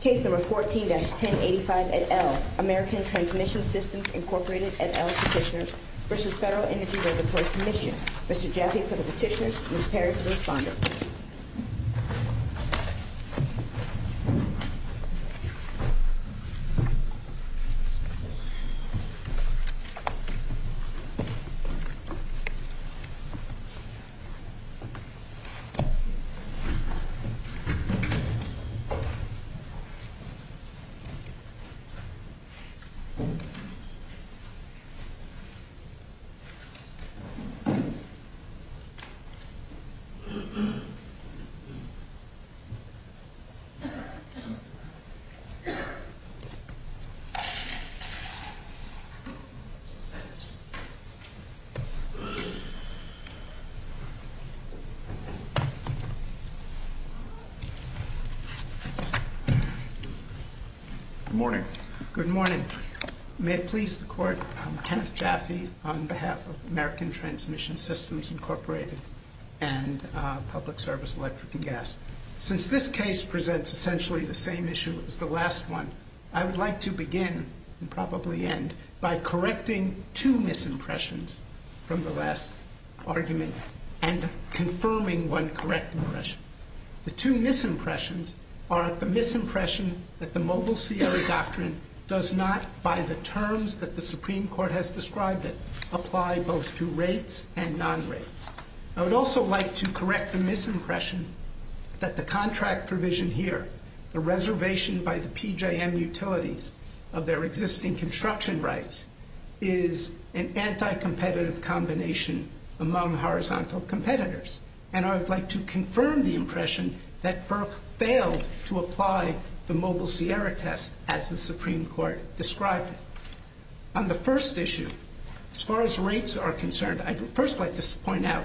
Case No. 14-1085 et al., American Transmission Systems, Inc. et al. Petitioners v. Federal Energy Regulatory Commission. Mr. Jaffe for the petitioners, Ms. Perry for the responder. Mr. Jaffe for the petitioners, Ms. Perry for the responder. Good morning. May it please the Court, I'm Kenneth Jaffe on behalf of American Transmission Systems, Incorporated and Public Service Electric and Gas. Since this case presents essentially the same issue as the last one, I would like to begin and probably end by correcting two misimpressions from the last argument and confirming one correct impression. The two misimpressions are the misimpression that the Mobile CR doctrine does not, by the terms that the Supreme Court has described it, apply both to rates and non-rates. I would also like to correct the misimpression that the contract provision here, the reservation by the PJM utilities of their existing construction rights, is an anti-competitive combination among horizontal competitors. And I would like to confirm the impression that FERC failed to apply the Mobile Sierra test as the Supreme Court described it. On the first issue, as far as rates are concerned, I'd first like to point out,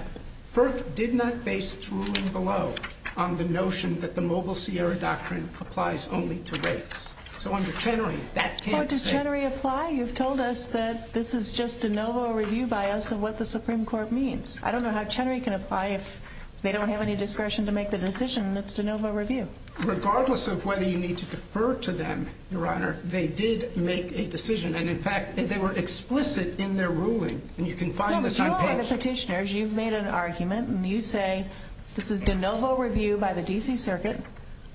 FERC did not base its ruling below on the notion that the Mobile Sierra doctrine applies only to rates. So under Chenery, that can't say. Does Chenery apply? You've told us that this is just a novel review by us of what the Supreme Court means. I don't know how Chenery can apply if they don't have any discretion to make the decision that's de novo review. Regardless of whether you need to defer to them, Your Honor, they did make a decision. And in fact, they were explicit in their ruling. And you can find this on page— No, but you are the petitioners. You've made an argument. And you say this is de novo review by the D.C. Circuit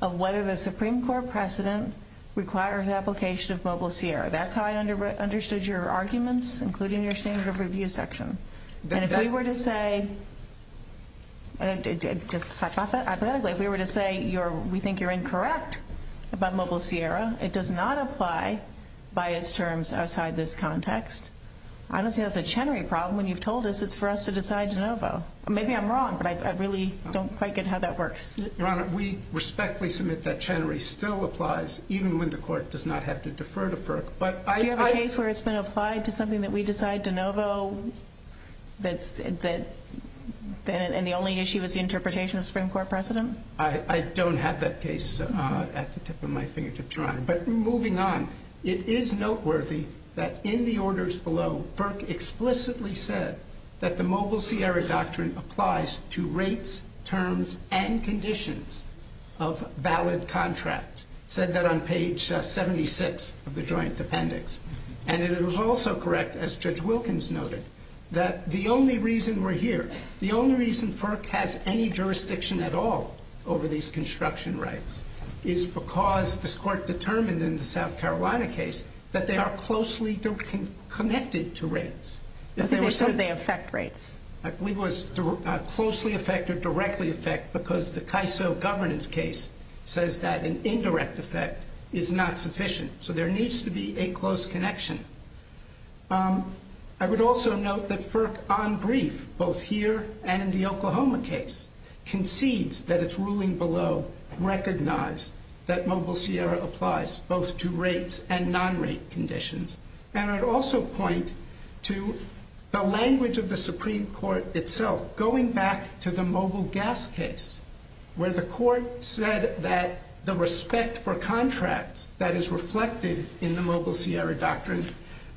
of whether the Supreme Court precedent requires application of Mobile Sierra. That's how I understood your arguments, including your standard of review section. And if we were to say—just hypothetically—if we were to say we think you're incorrect about Mobile Sierra, it does not apply by its terms outside this context. I don't see how it's a Chenery problem when you've told us it's for us to decide de novo. Maybe I'm wrong, but I really don't quite get how that works. Your Honor, we respectfully submit that Chenery still applies even when the Court does not have to defer to FERC. Do you have a case where it's been applied to something that we decide de novo and the only issue is the interpretation of Supreme Court precedent? I don't have that case at the tip of my fingertip, Your Honor. But moving on, it is noteworthy that in the orders below, FERC explicitly said that the Mobile Sierra doctrine applies to rates, terms, and conditions of valid contract. It said that on page 76 of the Joint Appendix. And it was also correct, as Judge Wilkins noted, that the only reason we're here—the only reason FERC has any jurisdiction at all over these construction rights is because this Court determined in the South Carolina case that they are closely connected to rates. I think they said they affect rates. I believe it was closely affect or directly affect because the CAISO governance case says that an indirect affect is not sufficient. So there needs to be a close connection. I would also note that FERC, on brief, both here and in the Oklahoma case, concedes that its ruling below recognized that Mobile Sierra applies both to rates and non-rate conditions. And I'd also point to the language of the Supreme Court itself, going back to the Mobile Gas case, where the court said that the respect for contracts that is reflected in the Mobile Sierra doctrine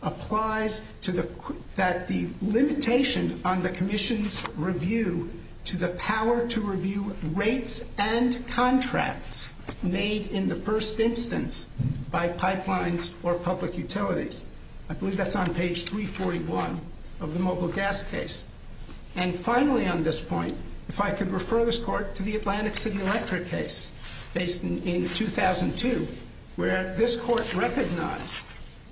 applies to the—that the limitation on the Commission's review to the power to review rates and contracts made in the first instance by pipelines or public utilities. I believe that's on page 341 of the Mobile Gas case. And finally on this point, if I could refer this Court to the Atlantic City Electric case, based in 2002, where this Court recognized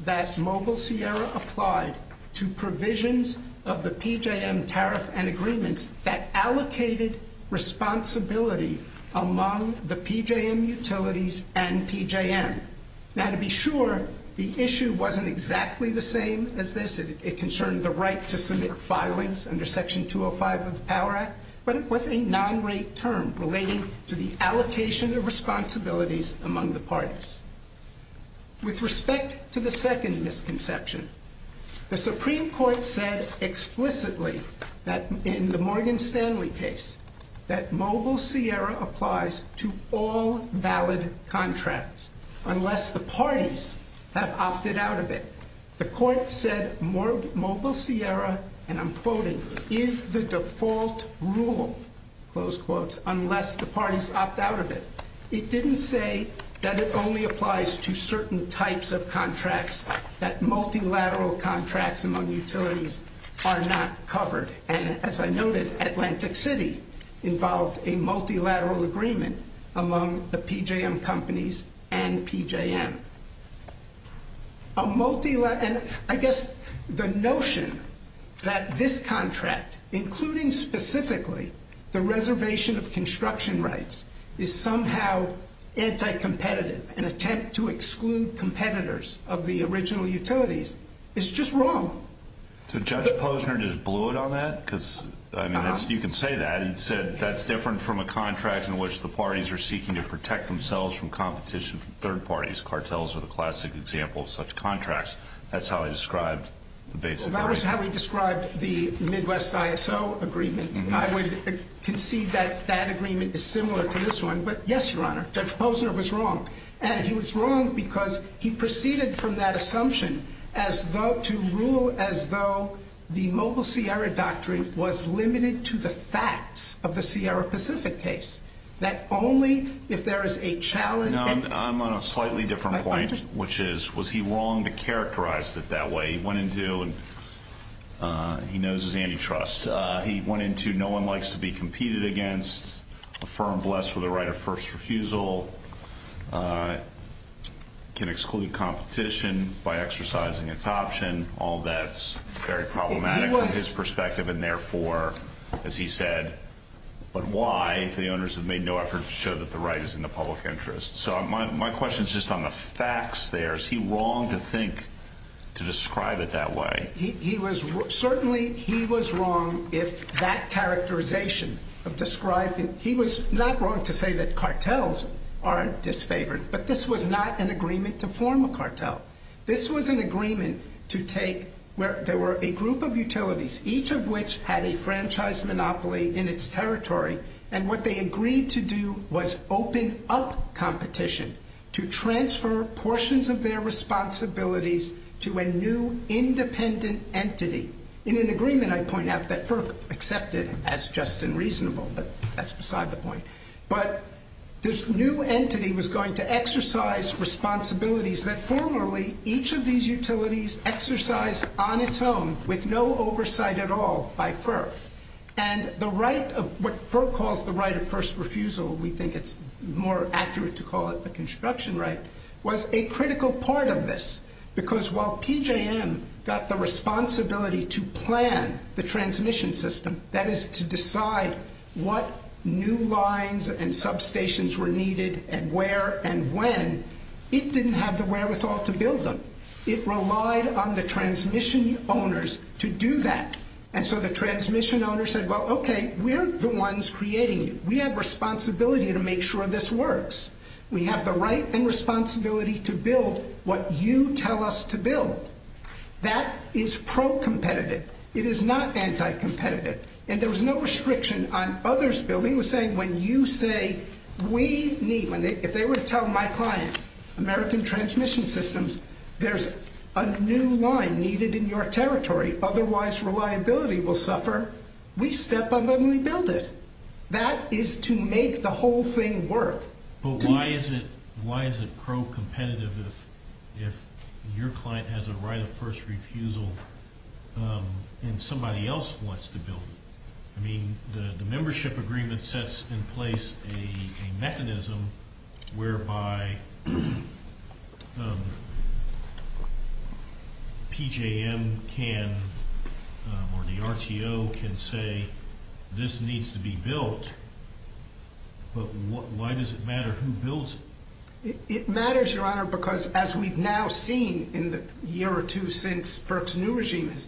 that Mobile Sierra applied to provisions of the PJM tariff and agreements that allocated responsibility among the PJM utilities and PJM. Now, to be sure, the issue wasn't exactly the same as this. It concerned the right to submit filings under Section 205 of the Power Act, but it was a non-rate term relating to the allocation of responsibilities among the parties. With respect to the second misconception, the Supreme Court said explicitly that in the Morgan Stanley case that Mobile Sierra applies to all valid contracts unless the parties have opted out of it. The Court said Mobile Sierra, and I'm quoting, is the default rule, close quotes, unless the parties opt out of it. It didn't say that it only applies to certain types of contracts, that multilateral contracts among utilities are not covered. And as I noted, Atlantic City involved a multilateral agreement among the PJM companies and PJM. A multilateral, and I guess the notion that this contract, including specifically the reservation of construction rights, is somehow anti-competitive, an attempt to exclude competitors of the original utilities, is just wrong. So Judge Posner just blew it on that? Because, I mean, you can say that. He said that's different from a contract in which the parties are seeking to protect themselves from competition from third parties. Cartels are the classic example of such contracts. That's how he described the basic right. If that was how he described the Midwest ISO agreement, I would concede that that agreement is similar to this one. But yes, Your Honor, Judge Posner was wrong. And he was wrong because he proceeded from that assumption as though to rule as though the Mobile Sierra Doctrine was limited to the facts of the Sierra Pacific case, that only if there is a challenge. I'm on a slightly different point, which is, was he wrong to characterize it that way? He went into, and he knows his antitrust. He went into, no one likes to be competed against. Affirm, bless for the right of first refusal. Can exclude competition by exercising its option. All that's very problematic from his perspective, and therefore, as he said, but why? The owners have made no effort to show that the right is in the public interest. So my question is just on the facts there. Is he wrong to think, to describe it that way? Certainly, he was wrong if that characterization of describing, he was not wrong to say that cartels aren't disfavored. But this was not an agreement to form a cartel. This was an agreement to take where there were a group of utilities, each of which had a franchise monopoly in its territory. And what they agreed to do was open up competition to transfer portions of their responsibilities to a new independent entity. In an agreement, I point out that FERC accepted as just and reasonable, but that's beside the point. But this new entity was going to exercise responsibilities that formerly each of these utilities exercised on its own with no oversight at all by FERC. And the right of what FERC calls the right of first refusal, we think it's more accurate to call it the construction right, was a critical part of this. Because while PJM got the responsibility to plan the transmission system, that is to decide what new lines and substations were needed and where and when, it didn't have the wherewithal to build them. It relied on the transmission owners to do that. And so the transmission owners said, well, okay, we're the ones creating it. We have responsibility to make sure this works. We have the right and responsibility to build what you tell us to build. That is pro-competitive. It is not anti-competitive. And there was no restriction on others building. We're saying when you say we need, if they were to tell my client, American Transmission Systems, there's a new line needed in your territory, otherwise reliability will suffer. We step up and we build it. That is to make the whole thing work. But why is it pro-competitive if your client has a right of first refusal and somebody else wants to build it? I mean, the membership agreement sets in place a mechanism whereby PJM can or the RTO can say this needs to be built, but why does it matter who builds it? It matters, Your Honor, because as we've now seen in the year or two since FERC's new regime has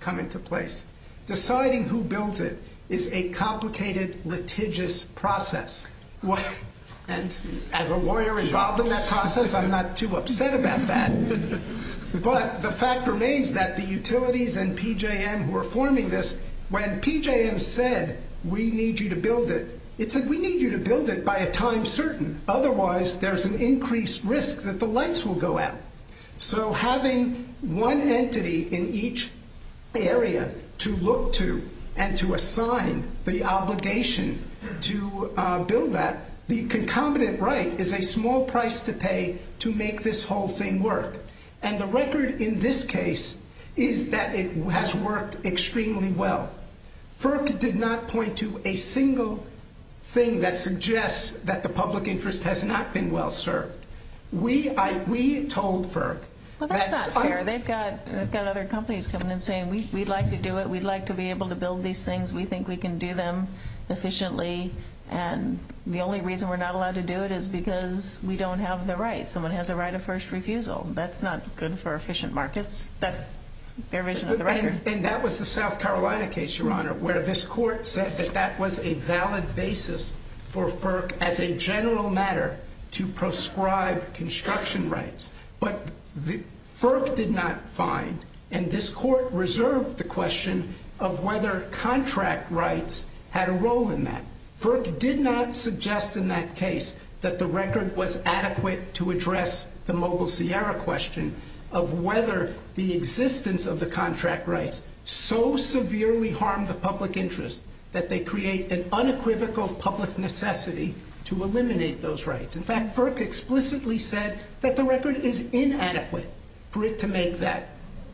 come into place, deciding who builds it is a complicated, litigious process. And as a lawyer involved in that process, I'm not too upset about that. But the fact remains that the utilities and PJM who are forming this, when PJM said we need you to build it, it said we need you to build it by a time certain. Otherwise, there's an increased risk that the lights will go out. So having one entity in each area to look to and to assign the obligation to build that, the concomitant right is a small price to pay to make this whole thing work. And the record in this case is that it has worked extremely well. FERC did not point to a single thing that suggests that the public interest has not been well served. We told FERC. Well, that's not fair. They've got other companies coming and saying we'd like to do it. We'd like to be able to build these things. We think we can do them efficiently. And the only reason we're not allowed to do it is because we don't have the right. Someone has a right of first refusal. That's not good for efficient markets. That's their vision of the record. And that was the South Carolina case, Your Honor, where this court said that that was a valid basis for FERC as a general matter to proscribe construction rights. But FERC did not find, and this court reserved the question of whether contract rights had a role in that. FERC did not suggest in that case that the record was adequate to address the Mobile Sierra question of whether the existence of the contract rights so severely harmed the public interest that they create an unequivocal public necessity to eliminate those rights. In fact, FERC explicitly said that the record is inadequate for it to make that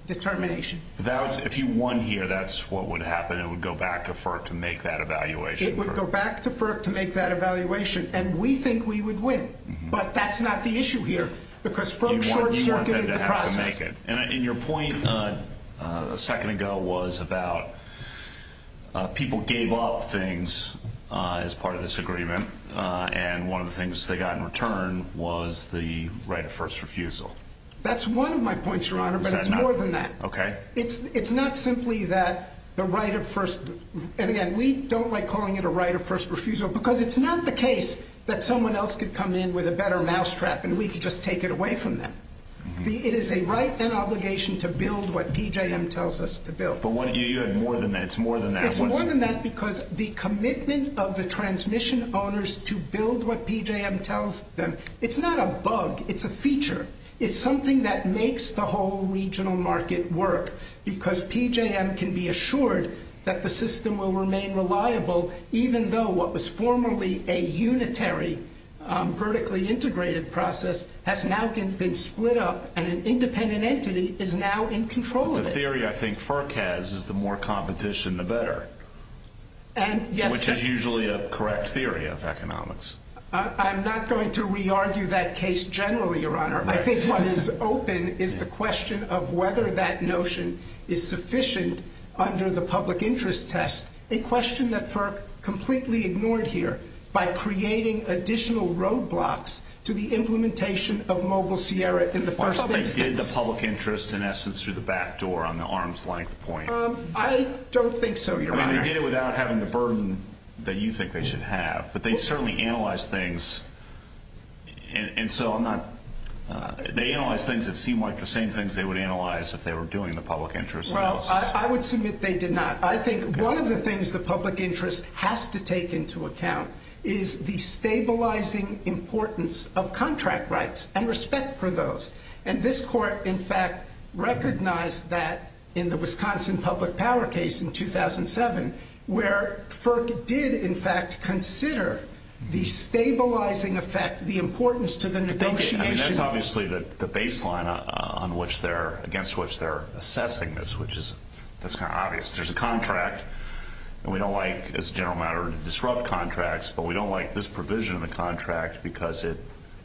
determination. If you won here, that's what would happen. It would go back to FERC to make that evaluation. It would go back to FERC to make that evaluation. And we think we would win. But that's not the issue here, because from short, you're going to have to process it. And your point a second ago was about people gave up things as part of this agreement, and one of the things they got in return was the right of first refusal. That's one of my points, Your Honor, but it's more than that. Okay. It's not simply that the right of first, and again, we don't like calling it a right of first refusal, because it's not the case that someone else could come in with a better mousetrap and we could just take it away from them. It is a right and obligation to build what PJM tells us to build. But you had more than that. It's more than that. It's more than that because the commitment of the transmission owners to build what PJM tells them, it's not a bug. It's a feature. It's something that makes the whole regional market work, because PJM can be assured that the system will remain reliable, even though what was formerly a unitary, vertically integrated process has now been split up, and an independent entity is now in control of it. The theory I think FERC has is the more competition, the better, which is usually a correct theory of economics. I'm not going to re-argue that case generally, Your Honor. I think what is open is the question of whether that notion is sufficient under the public interest test, a question that FERC completely ignored here by creating additional roadblocks to the implementation of Mobile Sierra in the first instance. First, they did the public interest in essence through the back door on the arm's length point. I mean, they did it without having the burden that you think they should have. But they certainly analyzed things, and so I'm not – they analyzed things that seemed like the same things they would analyze if they were doing the public interest analysis. Well, I would submit they did not. I think one of the things the public interest has to take into account is the stabilizing importance of contract rights and respect for those. And this court, in fact, recognized that in the Wisconsin public power case in 2007 where FERC did, in fact, consider the stabilizing effect, the importance to the negotiation. I mean, that's obviously the baseline on which they're – against which they're assessing this, which is – that's kind of obvious. There's a contract, and we don't like, as a general matter, to disrupt contracts, but we don't like this provision of the contract because it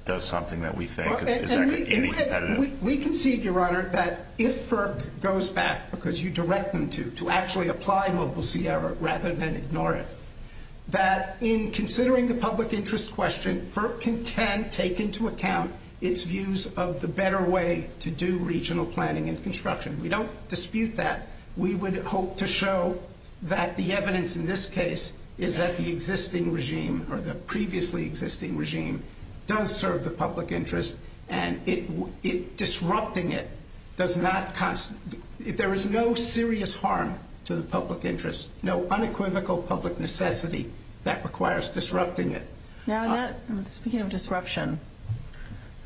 does something that we think is – We concede, Your Honor, that if FERC goes back, because you direct them to actually apply Mobile Sierra rather than ignore it, that in considering the public interest question, FERC can take into account its views of the better way to do regional planning and construction. We don't dispute that. We would hope to show that the evidence in this case is that the existing regime or the previously existing regime does serve the public interest, and it – disrupting it does not – there is no serious harm to the public interest, no unequivocal public necessity that requires disrupting it. Now, in that – speaking of disruption,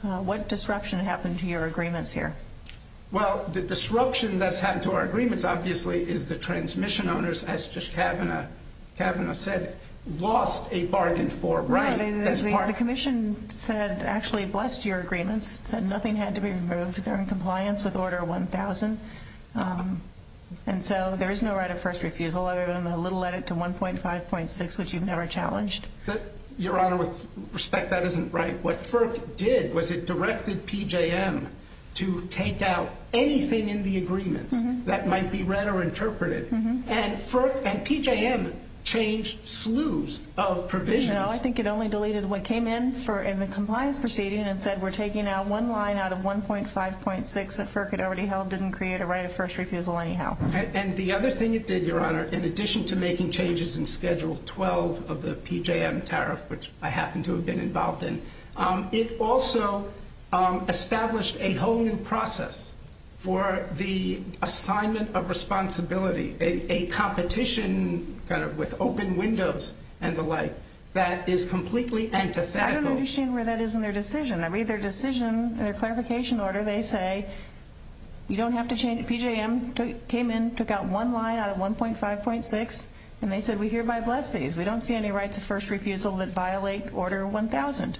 what disruption happened to your agreements here? Well, the disruption that's happened to our agreements, obviously, is the transmission owners, as Judge Kavanaugh said, lost a bargain for right. No, they didn't. The Commission said – actually blessed your agreements, said nothing had to be removed. They're in compliance with Order 1000. And so there is no right of first refusal other than the little edit to 1.5.6, which you've never challenged. Your Honor, with respect, that isn't right. What FERC did was it directed PJM to take out anything in the agreements that might be read or interpreted. And FERC and PJM changed slews of provisions. No, I think it only deleted what came in for – in the compliance proceeding and said we're taking out one line out of 1.5.6 that FERC had already held, didn't create a right of first refusal anyhow. And the other thing it did, Your Honor, in addition to making changes in Schedule 12 of the PJM tariff, which I happen to have been involved in, it also established a whole new process for the assignment of responsibility, a competition kind of with open windows and the like, that is completely antithetical. I don't understand where that is in their decision. I read their decision, their clarification order. They say you don't have to change – PJM came in, took out one line out of 1.5.6, and they said we hereby bless these. We don't see any rights of first refusal that violate Order 1000.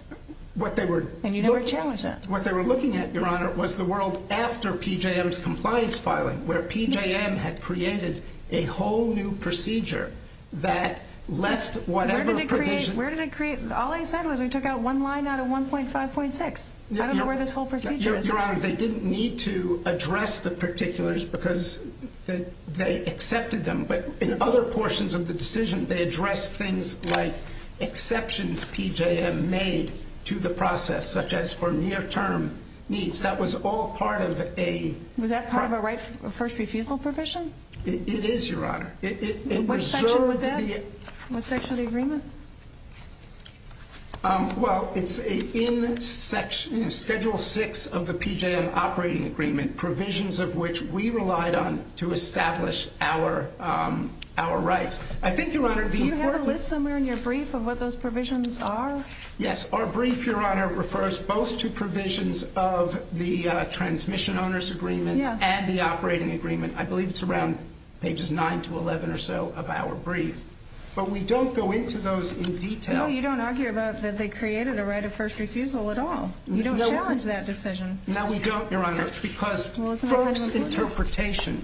And you never challenged that. What they were looking at, Your Honor, was the world after PJM's compliance filing, where PJM had created a whole new procedure that left whatever provision – Where did it create – all they said was we took out one line out of 1.5.6. I don't know where this whole procedure is. Your Honor, they didn't need to address the particulars because they accepted them. But in other portions of the decision, they addressed things like exceptions PJM made to the process, such as for near-term needs. That was all part of a – Was that part of a right of first refusal provision? It is, Your Honor. Which section was that? What section of the agreement? Well, it's in Schedule 6 of the PJM operating agreement, provisions of which we relied on to establish our rights. I think, Your Honor, the important – Do you have a list somewhere in your brief of what those provisions are? Yes. Our brief, Your Honor, refers both to provisions of the Transmission Owners Agreement and the operating agreement. I believe it's around pages 9 to 11 or so of our brief. But we don't go into those in detail. No, you don't argue about that they created a right of first refusal at all. You don't challenge that decision. No, we don't, Your Honor, because FERC's interpretation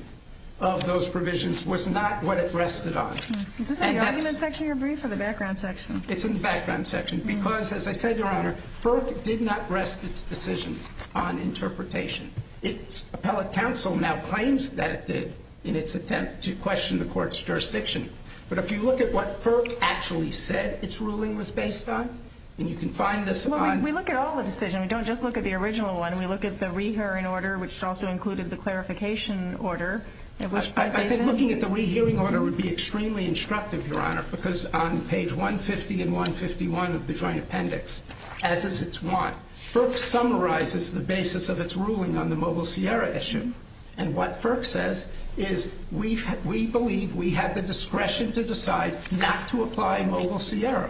of those provisions was not what it rested on. Is this in the argument section of your brief or the background section? It's in the background section because, as I said, Your Honor, FERC did not rest its decision on interpretation. Its appellate counsel now claims that it did in its attempt to question the court's jurisdiction. But if you look at what FERC actually said its ruling was based on, and you can find this on – Well, we look at all the decisions. We don't just look at the original one. We look at the rehearing order, which also included the clarification order, at which point they said – I think looking at the rehearing order would be extremely instructive, Your Honor, because on page 150 and 151 of the joint appendix, as is its want, FERC summarizes the basis of its ruling on the Mobile Sierra issue. And what FERC says is we believe we have the discretion to decide not to apply Mobile Sierra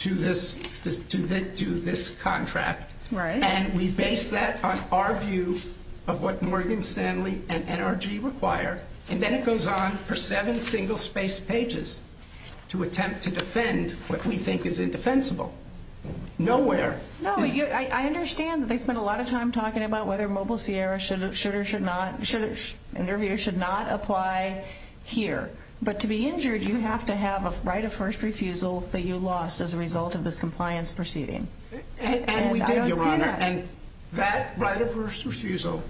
to this contract. And we base that on our view of what Morgan Stanley and NRG require. And then it goes on for seven single-spaced pages to attempt to defend what we think is indefensible. Nowhere. No, I understand that they spent a lot of time talking about whether Mobile Sierra should or should not – interview should not apply here. But to be injured, you have to have a right of first refusal that you lost as a result of this compliance proceeding. And we did, Your Honor. And I don't see that. And that right of first refusal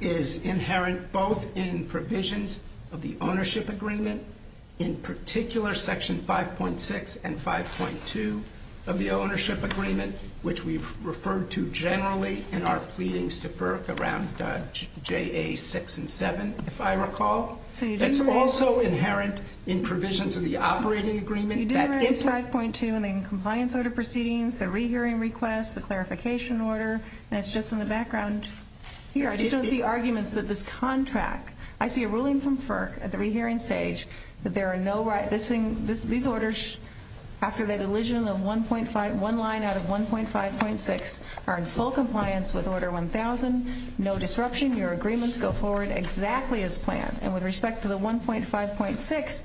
is inherent both in provisions of the ownership agreement, in particular section 5.6 and 5.2 of the ownership agreement, which we've referred to generally in our pleadings to FERC around JA 6 and 7, if I recall. That's also inherent in provisions of the operating agreement. You did raise 5.2 in the compliance order proceedings, the rehearing request, the clarification order, and it's just in the background here. I just don't see arguments that this contract – I see a ruling from FERC at the rehearing stage that there are no – these orders, after the deletion of one line out of 1.5.6, are in full compliance with Order 1000. No disruption. Your agreements go forward exactly as planned. And with respect to the 1.5.6,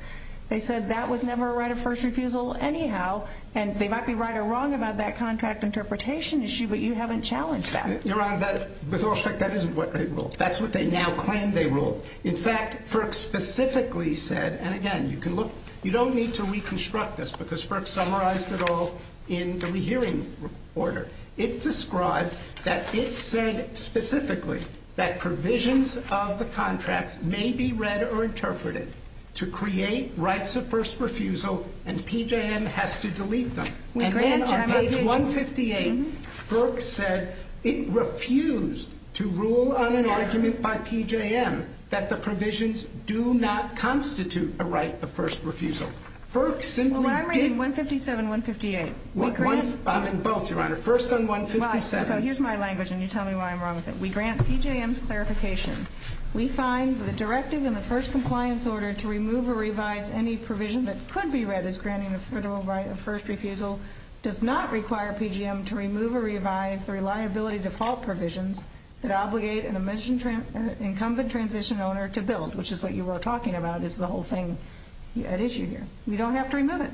they said that was never a right of first refusal anyhow. And they might be right or wrong about that contract interpretation issue, but you haven't challenged that. Your Honor, with all respect, that isn't what they ruled. That's what they now claim they ruled. In fact, FERC specifically said – and again, you don't need to reconstruct this because FERC summarized it all in the rehearing order. It described that it said specifically that provisions of the contracts may be read or interpreted to create rights of first refusal, and PJM has to delete them. And then on page 158, FERC said it refused to rule on an argument by PJM that the provisions do not constitute a right of first refusal. FERC simply did – Well, I'm reading 157, 158. I'm in both, Your Honor. First on 157. So here's my language, and you tell me why I'm wrong with it. We grant PJM's clarification. We find the directive in the first compliance order to remove or revise any provision that could be read as granting a federal right of first refusal does not require PJM to remove or revise the reliability default provisions that obligate an incumbent transition owner to build, which is what you were talking about is the whole thing at issue here. We don't have to remove it.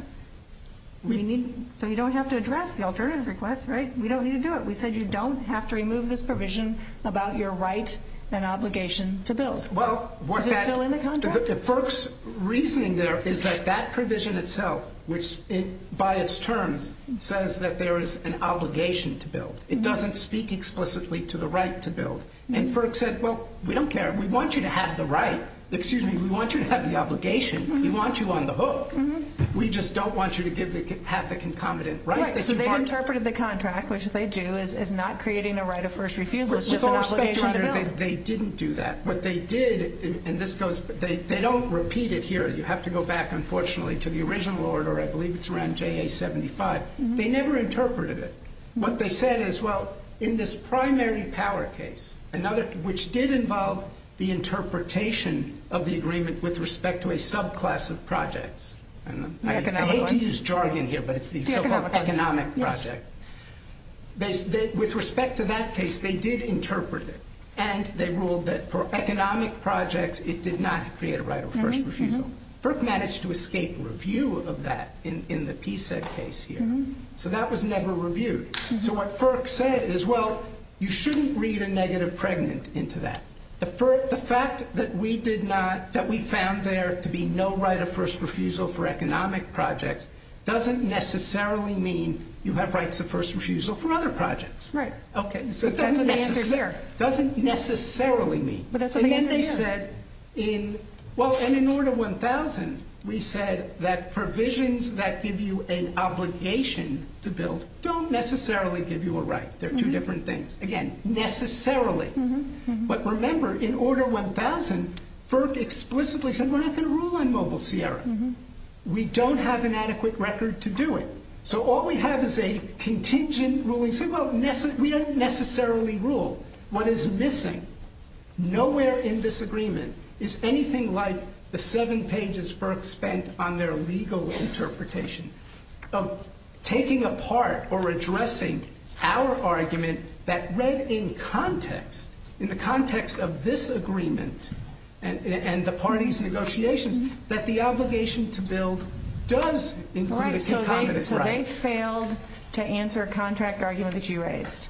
So you don't have to address the alternative request, right? We don't need to do it. We said you don't have to remove this provision about your right and obligation to build. Is it still in the contracts? FERC's reasoning there is that that provision itself, by its terms, says that there is an obligation to build. It doesn't speak explicitly to the right to build. And FERC said, well, we don't care. We want you to have the right. Excuse me, we want you to have the obligation. We want you on the hook. We just don't want you to have the concomitant right. They've interpreted the contract, which they do, as not creating a right of first refusal. It's just an obligation to build. They didn't do that. But they did, and this goes, they don't repeat it here. You have to go back, unfortunately, to the original order. I believe it's around JA75. They never interpreted it. What they said is, well, in this primary power case, which did involve the interpretation of the agreement with respect to a subclass of projects. I hate to use jargon here, but it's the so-called economic project. With respect to that case, they did interpret it. And they ruled that for economic projects, it did not create a right of first refusal. FERC managed to escape review of that in the PSED case here. So that was never reviewed. So what FERC said is, well, you shouldn't read a negative pregnant into that. The fact that we found there to be no right of first refusal for economic projects doesn't necessarily mean you have rights of first refusal for other projects. Right. Okay, so it doesn't necessarily mean. And they said, well, in Order 1000, we said that provisions that give you an obligation to build don't necessarily give you a right. They're two different things. Again, necessarily. But remember, in Order 1000, FERC explicitly said we're not going to rule on Mobile Sierra. We don't have an adequate record to do it. So all we have is a contingent ruling saying, well, we don't necessarily rule. What is missing, nowhere in this agreement, is anything like the seven pages FERC spent on their legal interpretation of taking apart or addressing our argument that read in context, in the context of this agreement and the parties' negotiations, that the obligation to build does include a concomitant right. So they failed to answer a contract argument that you raised.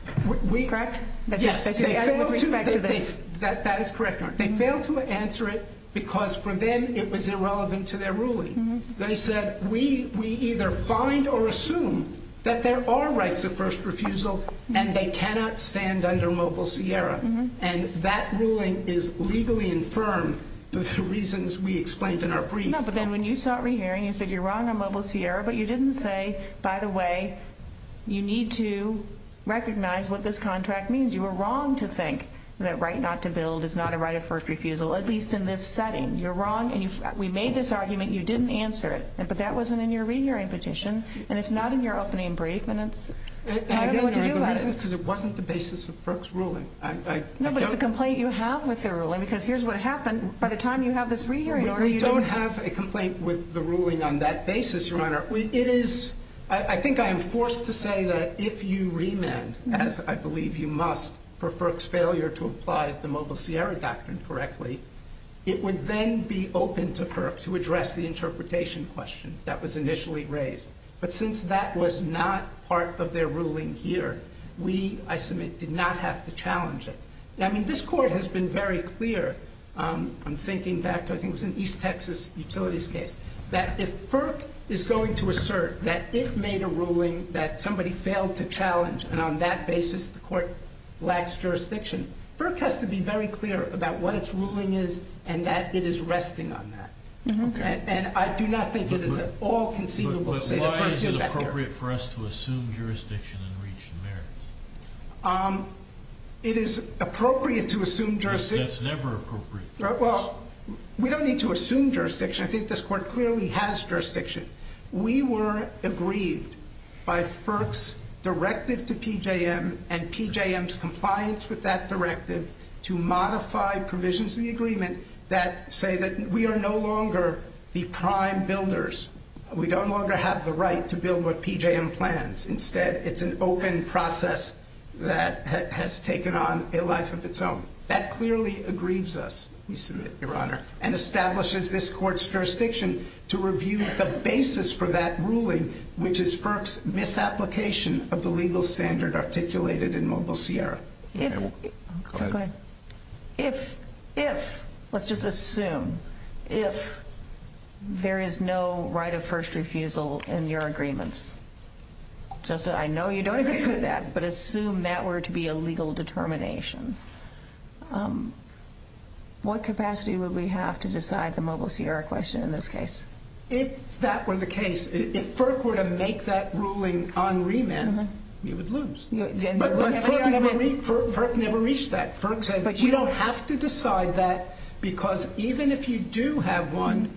Correct? Yes. With respect to this. That is correct, Your Honor. They failed to answer it because for them it was irrelevant to their ruling. They said we either find or assume that there are rights of first refusal and they cannot stand under Mobile Sierra. And that ruling is legally infirm of the reasons we explained in our brief. No, but then when you sought re-hearing, you said you're wrong on Mobile Sierra, but you didn't say, by the way, you need to recognize what this contract means. You were wrong to think that right not to build is not a right of first refusal, at least in this setting. You're wrong, and we made this argument. You didn't answer it. But that wasn't in your re-hearing petition, and it's not in your opening brief, and I don't know what to do about it. Because it wasn't the basis of FERC's ruling. No, but it's a complaint you have with their ruling because here's what happened. By the time you have this re-hearing order, you don't have a complaint with the ruling on that basis, Your Honor. I think I am forced to say that if you remand, as I believe you must, for FERC's failure to apply the Mobile Sierra doctrine correctly, it would then be open to FERC to address the interpretation question that was initially raised. But since that was not part of their ruling here, we, I submit, did not have to challenge it. I mean, this Court has been very clear, I'm thinking back to I think it was an East Texas Utilities case, that if FERC is going to assert that it made a ruling that somebody failed to challenge, and on that basis the Court lacks jurisdiction, FERC has to be very clear about what its ruling is and that it is resting on that. And I do not think it is at all conceivable to say that FERC did that here. But why is it appropriate for us to assume jurisdiction and reach the merits? It is appropriate to assume jurisdiction. That's never appropriate for us. Well, we don't need to assume jurisdiction. I think this Court clearly has jurisdiction. We were aggrieved by FERC's directive to PJM and PJM's compliance with that directive to modify provisions of the agreement that say that we are no longer the prime builders. We don't longer have the right to build what PJM plans. Instead, it's an open process that has taken on a life of its own. That clearly aggrieves us, we submit, Your Honor, and establishes this Court's jurisdiction to review the basis for that ruling, which is FERC's misapplication of the legal standard articulated in Mobile Sierra. Go ahead. If, let's just assume, if there is no right of first refusal in your agreements, I know you don't agree with that, but assume that were to be a legal determination, what capacity would we have to decide the Mobile Sierra question in this case? If that were the case, if FERC were to make that ruling on remand, we would lose. But FERC never reached that. FERC said we don't have to decide that because even if you do have one,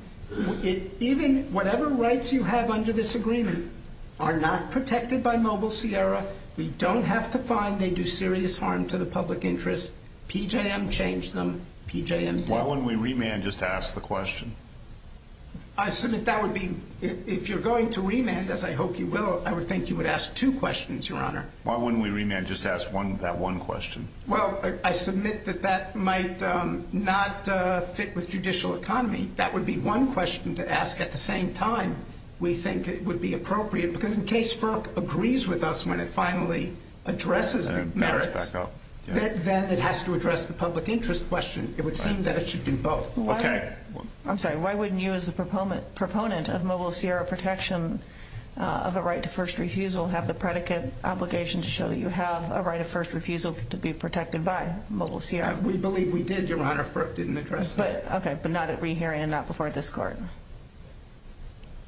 even whatever rights you have under this agreement are not protected by Mobile Sierra. We don't have to find they do serious harm to the public interest. PJM changed them. PJM did. Why wouldn't we remand just to ask the question? I submit that would be, if you're going to remand, as I hope you will, I would think you would ask two questions, Your Honor. Why wouldn't we remand just to ask that one question? Well, I submit that that might not fit with judicial economy. That would be one question to ask at the same time we think it would be appropriate because in case FERC agrees with us when it finally addresses the merits, then it has to address the public interest question. It would seem that it should do both. I'm sorry. Why wouldn't you as a proponent of Mobile Sierra protection of a right to first refusal have the predicate obligation to show that you have a right of first refusal to be protected by Mobile Sierra? We believe we did, Your Honor. FERC didn't address that. Okay, but not at re-hearing and not before this Court.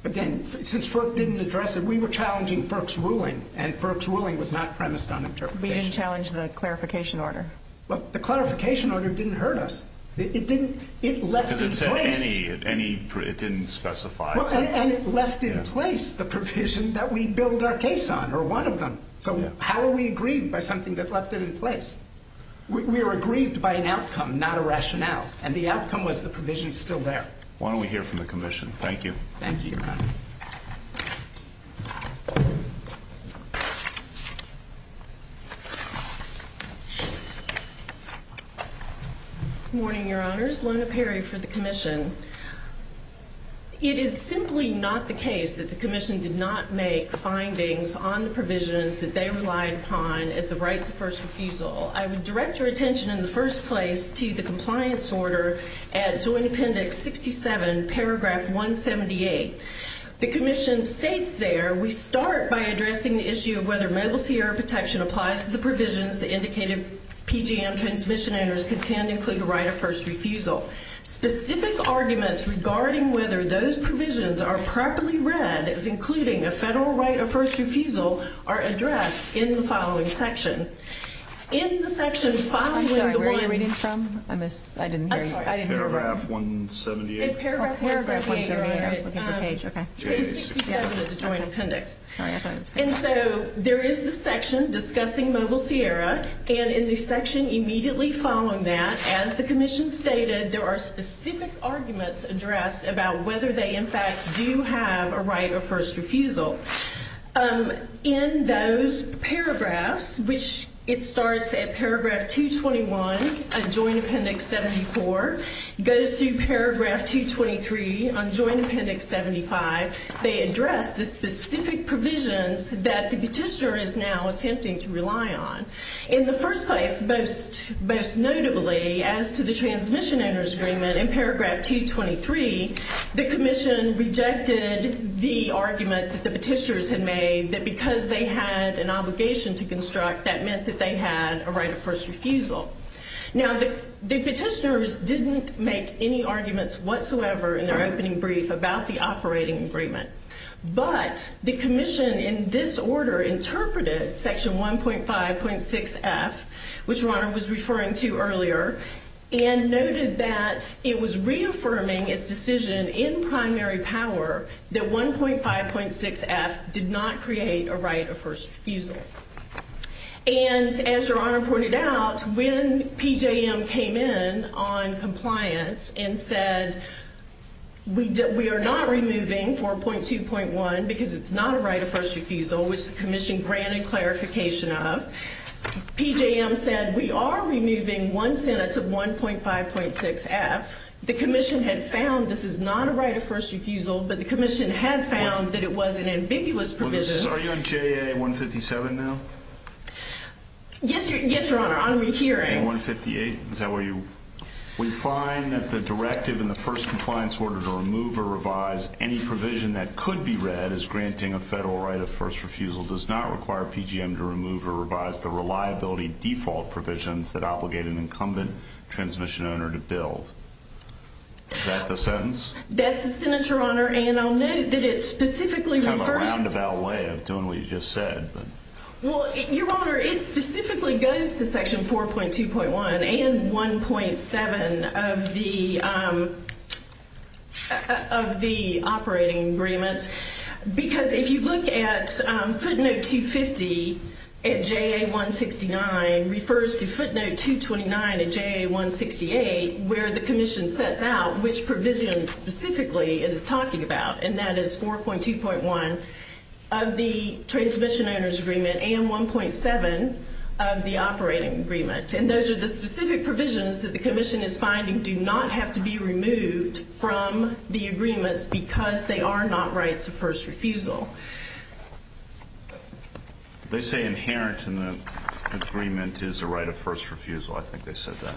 Again, since FERC didn't address it, we were challenging FERC's ruling, and FERC's ruling was not premised on interpretation. We didn't challenge the clarification order. Well, the clarification order didn't hurt us. It didn't. It left its place. Because it said any. It didn't specify. And it left in place the provision that we build our case on, or one of them. So how are we aggrieved by something that left it in place? We were aggrieved by an outcome, not a rationale. And the outcome was the provision is still there. Why don't we hear from the commission? Thank you. Thank you, Your Honor. Good morning, Your Honors. My name is Lona Perry for the commission. It is simply not the case that the commission did not make findings on the provisions that they relied upon as the rights of first refusal. I would direct your attention in the first place to the compliance order at Joint Appendix 67, Paragraph 178. The commission states there, We start by addressing the issue of whether Mobile Sierra protection applies to the provisions that indicated PGM transmission owners contend include a right of first refusal. Specific arguments regarding whether those provisions are properly read as including a federal right of first refusal are addressed in the following section. In the section following the one- I'm sorry, where are you reading from? I missed- I didn't hear you. I'm sorry. I didn't hear you. Paragraph 178. In Paragraph 178, Your Honor. I'm looking for a page, okay. Sorry, I thought it was Paragraph 178. And so there is the section discussing Mobile Sierra, and in the section immediately following that, as the commission stated, there are specific arguments addressed about whether they, in fact, do have a right of first refusal. In those paragraphs, which it starts at Paragraph 221, Joint Appendix 74, goes through Paragraph 223 on Joint Appendix 75, they address the specific provisions that the petitioner is now attempting to rely on. In the first place, most notably, as to the transmission owners agreement, in Paragraph 223, the commission rejected the argument that the petitioners had made that because they had an obligation to construct, that meant that they had a right of first refusal. Now, the petitioners didn't make any arguments whatsoever in their opening brief about the operating agreement. But the commission in this order interpreted Section 1.5.6.F, which Your Honor was referring to earlier, and noted that it was reaffirming its decision in primary power that 1.5.6.F did not create a right of first refusal. And as Your Honor pointed out, when PJM came in on compliance and said, we are not removing 4.2.1 because it's not a right of first refusal, which the commission granted clarification of, PJM said, we are removing one sentence of 1.5.6.F. The commission had found this is not a right of first refusal, but the commission had found that it was an ambiguous provision. Are you on JA 157 now? Yes, Your Honor, I'm rehearing. JA 158, is that where you? We find that the directive in the first compliance order to remove or revise any provision that could be read as granting a federal right of first refusal does not require PJM to remove or revise the reliability default provisions that obligate an incumbent transmission owner to build. Is that the sentence? That's the sentence, Your Honor. And I'll note that it specifically refers— It's kind of a roundabout way of doing what you just said. Well, Your Honor, it specifically goes to section 4.2.1 and 1.7 of the operating agreements. Because if you look at footnote 250 at JA 169, refers to footnote 229 at JA 168, where the commission sets out which provision specifically it is talking about, and that is 4.2.1 of the transmission owner's agreement and 1.7 of the operating agreement. And those are the specific provisions that the commission is finding do not have to be removed from the agreements because they are not rights of first refusal. They say inherent in the agreement is a right of first refusal. I think they said that.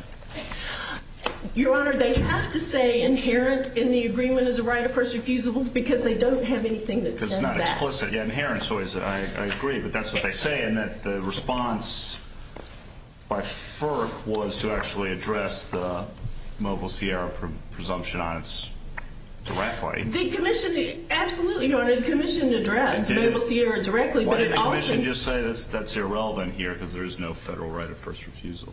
Your Honor, they have to say inherent in the agreement is a right of first refusal because they don't have anything that says that. Because it's not explicit. Yeah, inherent. I agree, but that's what they say, and that the response by FERC was to actually address the Mobile Sierra presumption on it directly. Absolutely, Your Honor. The commission addressed Mobile Sierra directly, but it also— Why didn't the commission just say that's irrelevant here because there is no federal right of first refusal?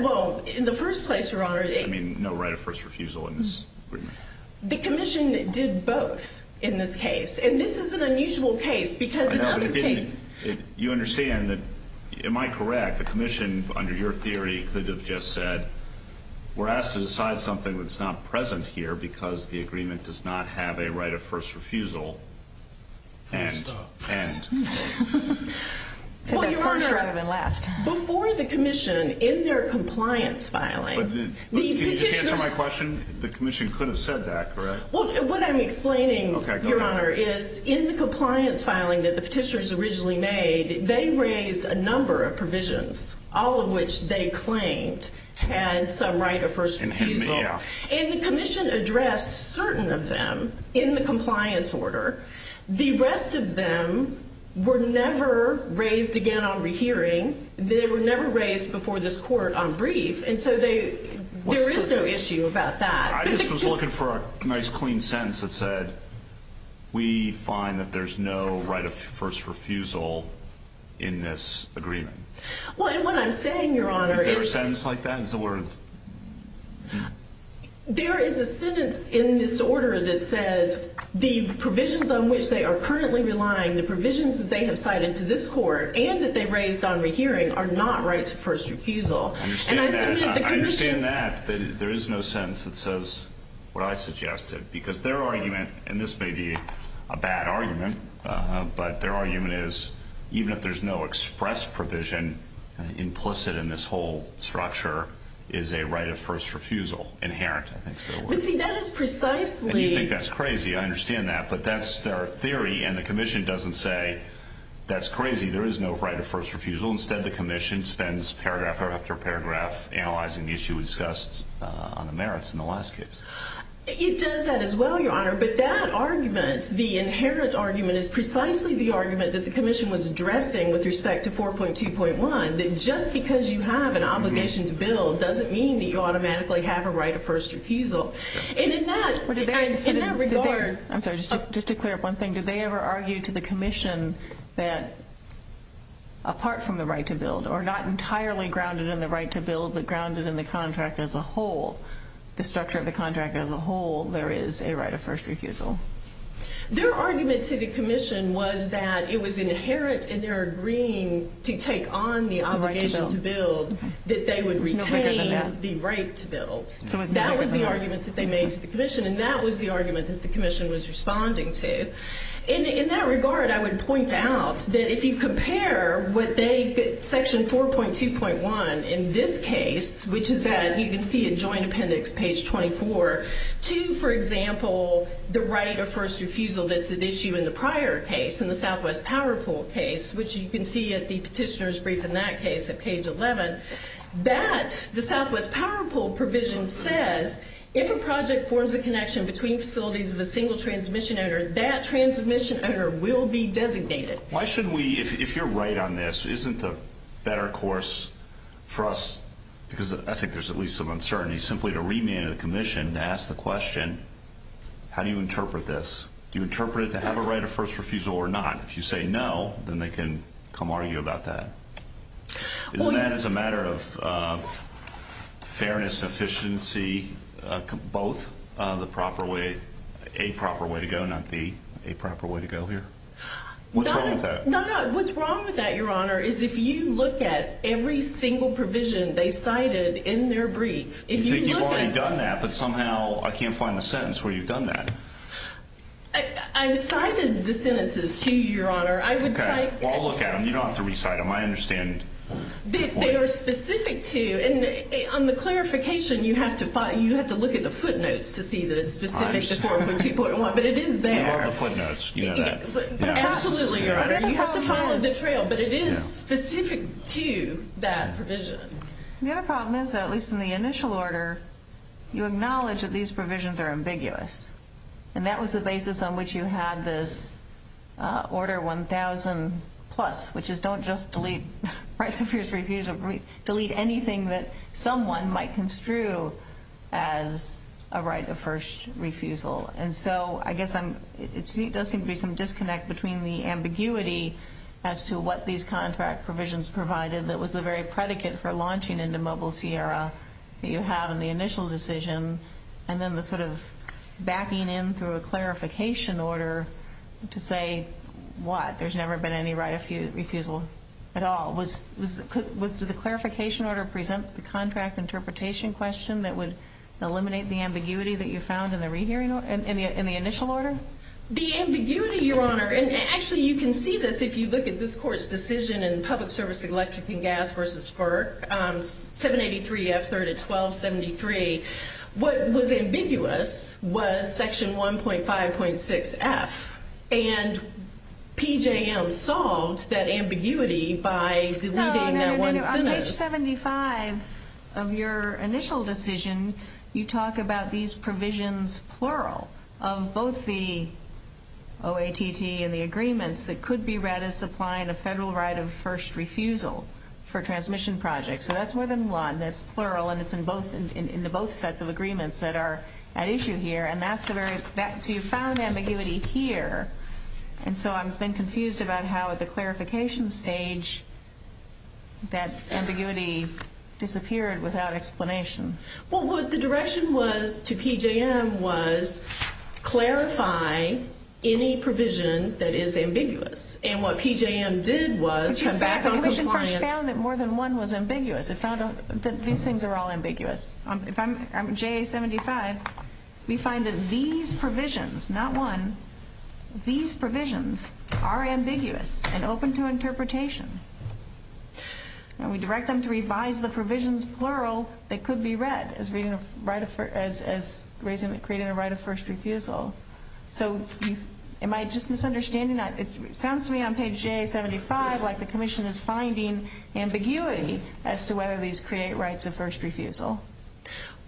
Well, in the first place, Your Honor— I mean, no right of first refusal in this agreement. The commission did both in this case, and this is an unusual case because in other cases— You understand that—am I correct? The commission, under your theory, could have just said, we're asked to decide something that's not present here because the agreement does not have a right of first refusal and— And stop. Said that first rather than last. Before the commission, in their compliance filing— Can you just answer my question? The commission could have said that, correct? Well, what I'm explaining, Your Honor, is in the compliance filing that the petitioners originally made, they raised a number of provisions, all of which they claimed had some right of first refusal. And may have. And the commission addressed certain of them in the compliance order. The rest of them were never raised again on rehearing. They were never raised before this court on brief. And so there is no issue about that. I just was looking for a nice, clean sentence that said, we find that there's no right of first refusal in this agreement. Well, and what I'm saying, Your Honor, is— Is there a sentence like that? Is the word— There is a sentence in this order that says the provisions on which they are currently relying, the provisions that they have cited to this court, and that they raised on rehearing, are not rights of first refusal. I understand that. There is no sentence that says what I suggested. Because their argument—and this may be a bad argument— but their argument is, even if there's no express provision implicit in this whole structure, is a right of first refusal inherent. But see, that is precisely— You think that's crazy. I understand that. But that's their theory, and the Commission doesn't say, that's crazy, there is no right of first refusal. Instead, the Commission spends paragraph after paragraph analyzing the issue we discussed on the merits in the last case. It does that as well, Your Honor. But that argument, the inherent argument, is precisely the argument that the Commission was addressing with respect to 4.2.1, that just because you have an obligation to bill doesn't mean that you automatically have a right of first refusal. And in that regard— I'm sorry, just to clear up one thing. Did they ever argue to the Commission that, apart from the right to build, or not entirely grounded in the right to build, but grounded in the contract as a whole, the structure of the contract as a whole, there is a right of first refusal? Their argument to the Commission was that it was inherent in their agreeing to take on the obligation to build that they would retain the right to build. That was the argument that they made to the Commission, and that was the argument that the Commission was responding to. In that regard, I would point out that if you compare what they—Section 4.2.1 in this case, which is that you can see in Joint Appendix, page 24, to, for example, the right of first refusal that's at issue in the prior case, in the Southwest Power Pool case, which you can see at the petitioner's brief in that case at page 11, that the Southwest Power Pool provision says if a project forms a connection between facilities of a single transmission owner, that transmission owner will be designated. Why should we—if you're right on this, isn't the better course for us— because I think there's at least some uncertainty— simply to remand the Commission to ask the question, how do you interpret this? Do you interpret it to have a right of first refusal or not? If you say no, then they can come argue about that. Isn't that as a matter of fairness and efficiency, both the proper way—a proper way to go, not the aproper way to go here? What's wrong with that? No, no. What's wrong with that, Your Honor, is if you look at every single provision they cited in their brief, if you look at— You think you've already done that, but somehow I can't find the sentence where you've done that. I've cited the sentences, too, Your Honor. I would cite— Well, I'll look at them. You don't have to recite them. I understand. They are specific to— and on the clarification, you have to look at the footnotes to see that it's specific to 4.2.1, but it is there. I love the footnotes. You know that. Absolutely, Your Honor. You have to follow the trail, but it is specific to that provision. The other problem is, at least in the initial order, you acknowledge that these provisions are ambiguous, and that was the basis on which you had this Order 1000+, which is don't just delete rights of first refusal. Delete anything that someone might construe as a right of first refusal. And so I guess it does seem to be some disconnect between the ambiguity as to what these contract provisions provided that was the very predicate for launching into Mobile Sierra that you have in the initial decision, and then the sort of backing in through a clarification order to say what? There's never been any right of refusal at all. Did the clarification order present the contract interpretation question that would eliminate the ambiguity that you found in the initial order? The ambiguity, Your Honor, and actually you can see this if you look at this Court's decision in Public Service Electric and Gas v. FERC, 783 F.312.73. What was ambiguous was Section 1.5.6.F, and PJM solved that ambiguity by deleting that one sentence. No, no, no. On page 75 of your initial decision, you talk about these provisions, plural, of both the OATT and the agreements that could be read as supplying a federal right of first refusal for transmission projects. So that's more than one. That's plural, and it's in the both sets of agreements that are at issue here. So you found ambiguity here, and so I'm then confused about how at the clarification stage that ambiguity disappeared without explanation. Well, what the direction was to PJM was clarify any provision that is ambiguous, and what PJM did was come back on compliance. The Commission first found that more than one was ambiguous. It found that these things are all ambiguous. If I'm JA-75, we find that these provisions, not one, these provisions are ambiguous and open to interpretation, and we direct them to revise the provisions, plural, that could be read as creating a right of first refusal. So am I just misunderstanding? It sounds to me on page JA-75 like the Commission is finding ambiguity as to whether these create rights of first refusal.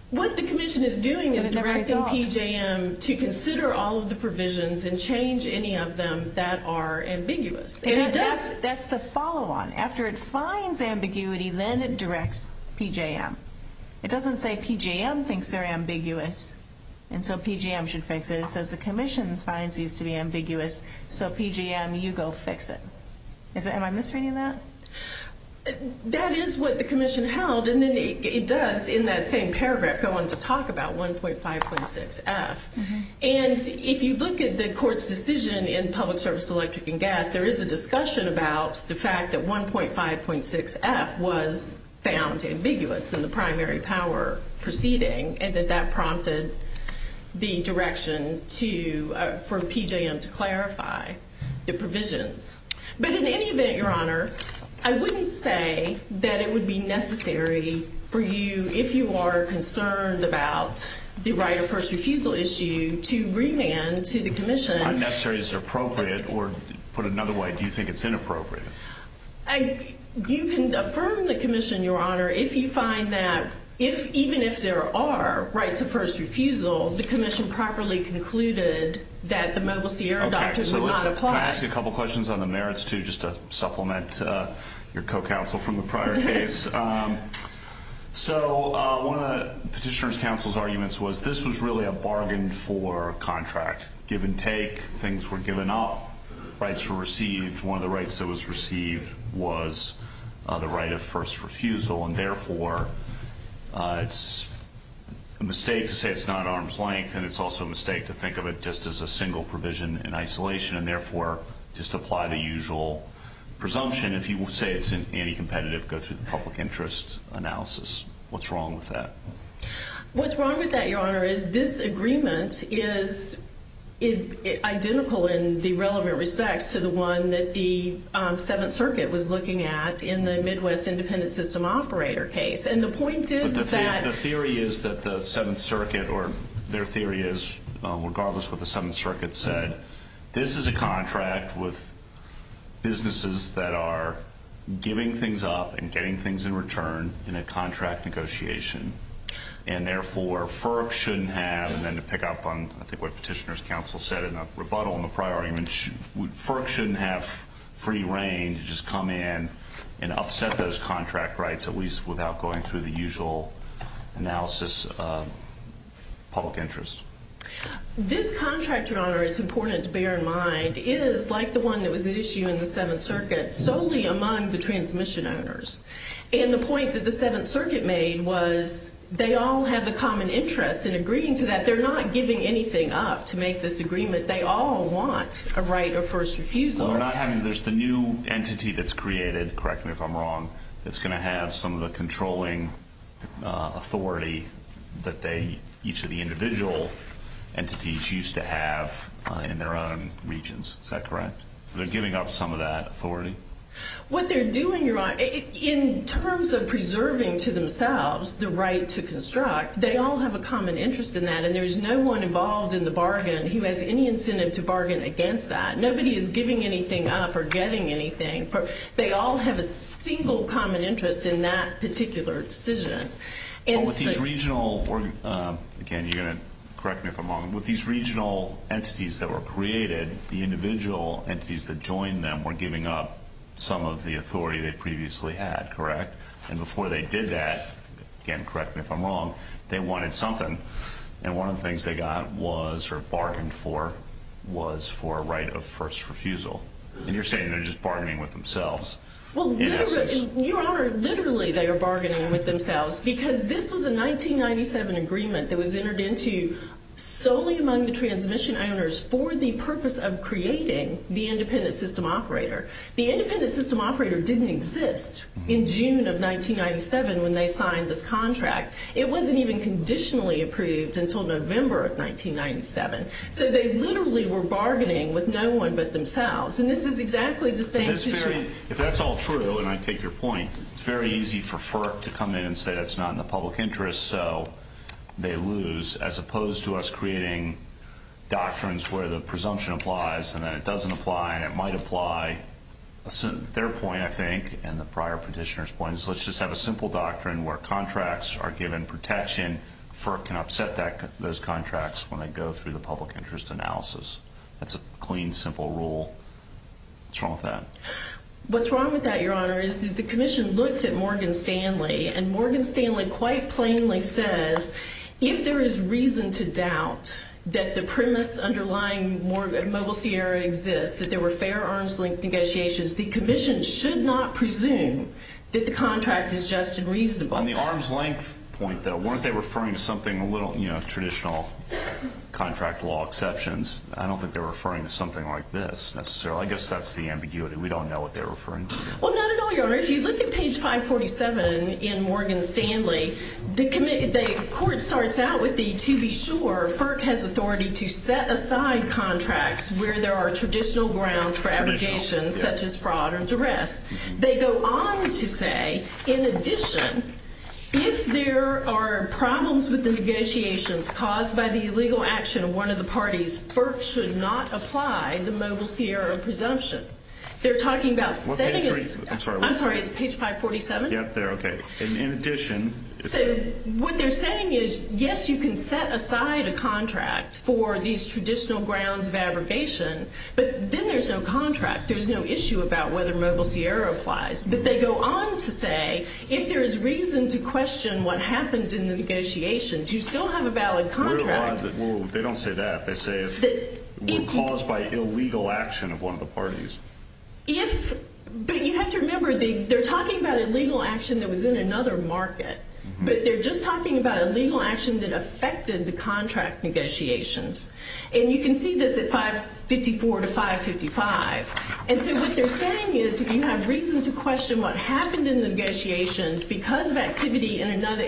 What the Commission is doing is directing PJM to consider all of the provisions and change any of them that are ambiguous. That's the follow-on. After it finds ambiguity, then it directs PJM. It doesn't say PJM thinks they're ambiguous, and so PJM should fix it. It says the Commission finds these to be ambiguous, so PJM, you go fix it. Am I misreading that? That is what the Commission held, and then it does in that same paragraph go on to talk about 1.5.6f. And if you look at the Court's decision in Public Service, Electric, and Gas, there is a discussion about the fact that 1.5.6f was found ambiguous in the primary power proceeding and that that prompted the direction for PJM to clarify the provisions. But in any event, Your Honor, I wouldn't say that it would be necessary for you, if you are concerned about the right of first refusal issue, to remand to the Commission. Unnecessary is appropriate, or put another way, do you think it's inappropriate? You can affirm the Commission, Your Honor, if you find that even if there are rights of first refusal, the Commission properly concluded that the Mobile Sierra doctrine would not apply. Can I ask you a couple questions on the merits, too, just to supplement your co-counsel from the prior case? So one of the Petitioner's Council's arguments was this was really a bargain for contract. Give and take, things were given up, rights were received. One of the rights that was received was the right of first refusal, and, therefore, it's a mistake to say it's not arm's length, and it's also a mistake to think of it just as a single provision in isolation and, therefore, just apply the usual presumption. If you say it's anti-competitive, go through the public interest analysis. What's wrong with that? What's wrong with that, Your Honor, is this agreement is identical in the relevant respects to the one that the Seventh Circuit was looking at in the Midwest Independent System Operator case, and the point is that... The theory is that the Seventh Circuit, or their theory is, regardless of what the Seventh Circuit said, this is a contract with businesses that are giving things up and getting things in return in a contract negotiation, and, therefore, FERC shouldn't have, and then to pick up on, I think, what Petitioner's Counsel said in a rebuttal in the prior argument, FERC shouldn't have free reign to just come in and upset those contract rights, at least without going through the usual analysis of public interest. This contract, Your Honor, it's important to bear in mind, is like the one that was at issue in the Seventh Circuit, solely among the transmission owners, and the point that the Seventh Circuit made was they all have a common interest in agreeing to that. They're not giving anything up to make this agreement. They all want a right of first refusal. There's the new entity that's created, correct me if I'm wrong, that's going to have some of the controlling authority that each of the individual entities used to have in their own regions. Is that correct? So they're giving up some of that authority? What they're doing, Your Honor, in terms of preserving to themselves the right to construct, they all have a common interest in that, and there's no one involved in the bargain who has any incentive to bargain against that. Nobody is giving anything up or getting anything. They all have a single common interest in that particular decision. With these regional entities that were created, the individual entities that joined them were giving up some of the authority they previously had, correct? And before they did that, again, correct me if I'm wrong, they wanted something, and one of the things they got was or bargained for was for a right of first refusal. And you're saying they're just bargaining with themselves. Well, Your Honor, literally they are bargaining with themselves because this was a 1997 agreement that was entered into solely among the transmission owners for the purpose of creating the independent system operator. The independent system operator didn't exist in June of 1997 when they signed this contract. It wasn't even conditionally approved until November of 1997. So they literally were bargaining with no one but themselves, and this is exactly the same situation. If that's all true, and I take your point, it's very easy for FERC to come in and say that's not in the public interest, so they lose, as opposed to us creating doctrines where the presumption applies and then it doesn't apply and it might apply. Their point, I think, and the prior petitioner's point is let's just have a simple doctrine where contracts are given protection. FERC can upset those contracts when they go through the public interest analysis. That's a clean, simple rule. What's wrong with that? What's wrong with that, Your Honor, is the commission looked at Morgan Stanley, and Morgan Stanley quite plainly says if there is reason to doubt that the premise underlying Mobile Sierra exists, that there were fair arms-length negotiations, the commission should not presume that the contract is just and reasonable. On the arms-length point, though, weren't they referring to something a little, you know, traditional contract law exceptions? I don't think they're referring to something like this necessarily. I guess that's the ambiguity. We don't know what they're referring to. Well, not at all, Your Honor. If you look at page 547 in Morgan Stanley, the court starts out with the to-be-sure. FERC has authority to set aside contracts where there are traditional grounds for abrogation such as fraud or duress. They go on to say, in addition, if there are problems with the negotiations caused by the illegal action of one of the parties, FERC should not apply the Mobile Sierra presumption. They're talking about setting a— I'm sorry. I'm sorry. Is it page 547? Yeah, there. Okay. In addition— So what they're saying is, yes, you can set aside a contract for these traditional grounds of abrogation, but then there's no contract. There's no issue about whether Mobile Sierra applies. But they go on to say, if there is reason to question what happened in the negotiations, you still have a valid contract. They don't say that. They say it was caused by illegal action of one of the parties. But you have to remember, they're talking about illegal action that was in another market, but they're just talking about illegal action that affected the contract negotiations. And you can see this at 554 to 555. And so what they're saying is, if you have reason to question what happened in the negotiations because of activity in another—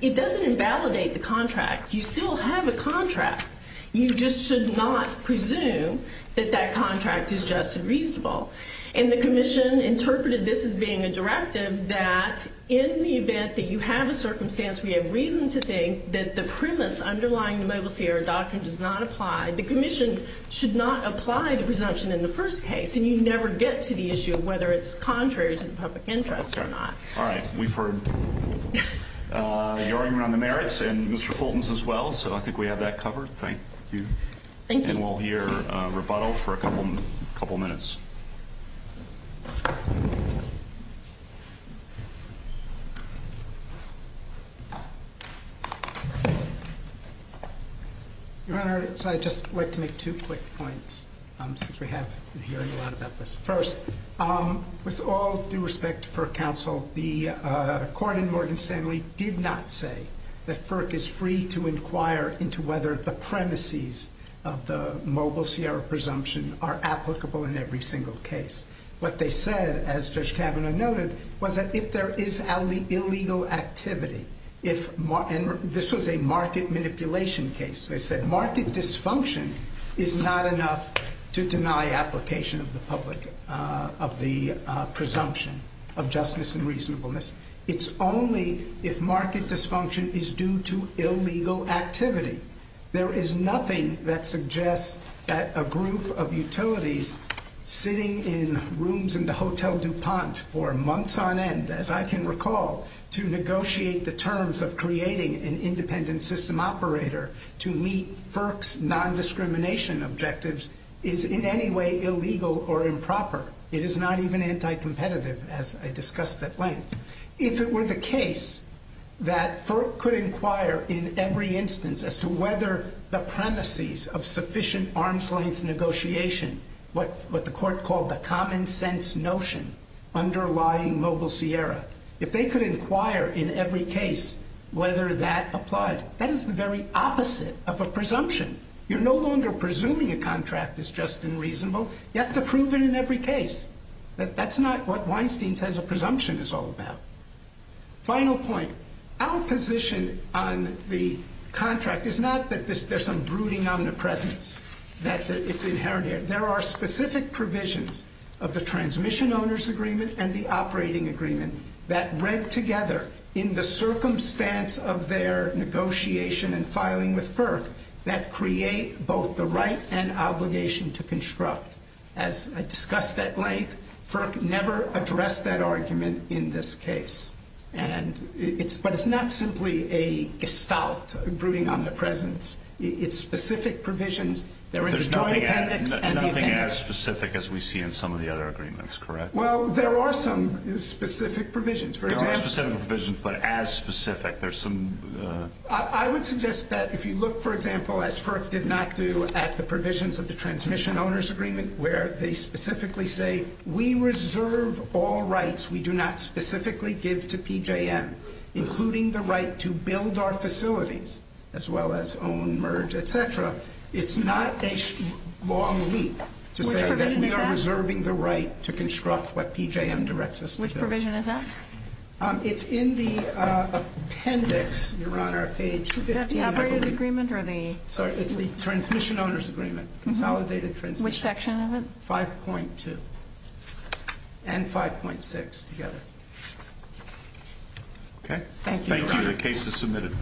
it doesn't invalidate the contract. You still have a contract. You just should not presume that that contract is just and reasonable. And the commission interpreted this as being a directive that in the event that you have a circumstance where you have reason to think that the premise underlying the Mobile Sierra doctrine does not apply, the commission should not apply the presumption in the first case. And you never get to the issue of whether it's contrary to the public interest or not. Okay. All right. We've heard your argument on the merits and Mr. Fulton's as well, so I think we have that covered. Thank you. Thank you. And we'll hear rebuttal for a couple minutes. Your Honor, I'd just like to make two quick points since we have been hearing a lot about this. First, with all due respect to FERC counsel, the court in Morgan Stanley did not say that FERC is free to inquire into whether the premises of the Mobile Sierra presumption are applicable in every single case. What they said, as Judge Kavanaugh noted, was that if there is illegal activity, and this was a market manipulation case, they said market dysfunction is not enough to deny application of the public, of the presumption of justness and reasonableness. It's only if market dysfunction is due to illegal activity. There is nothing that suggests that a group of utilities sitting in rooms in the Hotel DuPont for months on end, as I can recall, to negotiate the terms of creating an independent system operator to meet FERC's nondiscrimination objectives is in any way illegal or improper. It is not even anti-competitive, as I discussed at length. If it were the case that FERC could inquire in every instance as to whether the premises of sufficient arm's-length negotiation, what the court called the common-sense notion underlying Mobile Sierra, if they could inquire in every case whether that applied, that is the very opposite of a presumption. You're no longer presuming a contract is just and reasonable. You have to prove it in every case. That's not what Weinstein says a presumption is all about. Final point. Our position on the contract is not that there's some brooding omnipresence that it's inherited. There are specific provisions of the Transmission Owners Agreement and the Operating Agreement that, read together, in the circumstance of their negotiation and filing with FERC, that create both the right and obligation to construct. As I discussed at length, FERC never addressed that argument in this case. But it's not simply a gestalt, a brooding omnipresence. It's specific provisions. There's nothing as specific as we see in some of the other agreements, correct? Well, there are some specific provisions. There are specific provisions, but as specific. I would suggest that if you look, for example, as FERC did not do at the provisions of the Transmission Owners Agreement, where they specifically say, we reserve all rights we do not specifically give to PJM, including the right to build our facilities, as well as own, merge, et cetera. It's not a long leap to say that we are reserving the right to construct what PJM directs us to build. Which provision is that? It's in the appendix. Is that the Operators Agreement or the? Sorry, it's the Transmission Owners Agreement. Consolidated transmission. Which section of it? 5.2 and 5.6 together. Okay. Thank you. The case is submitted.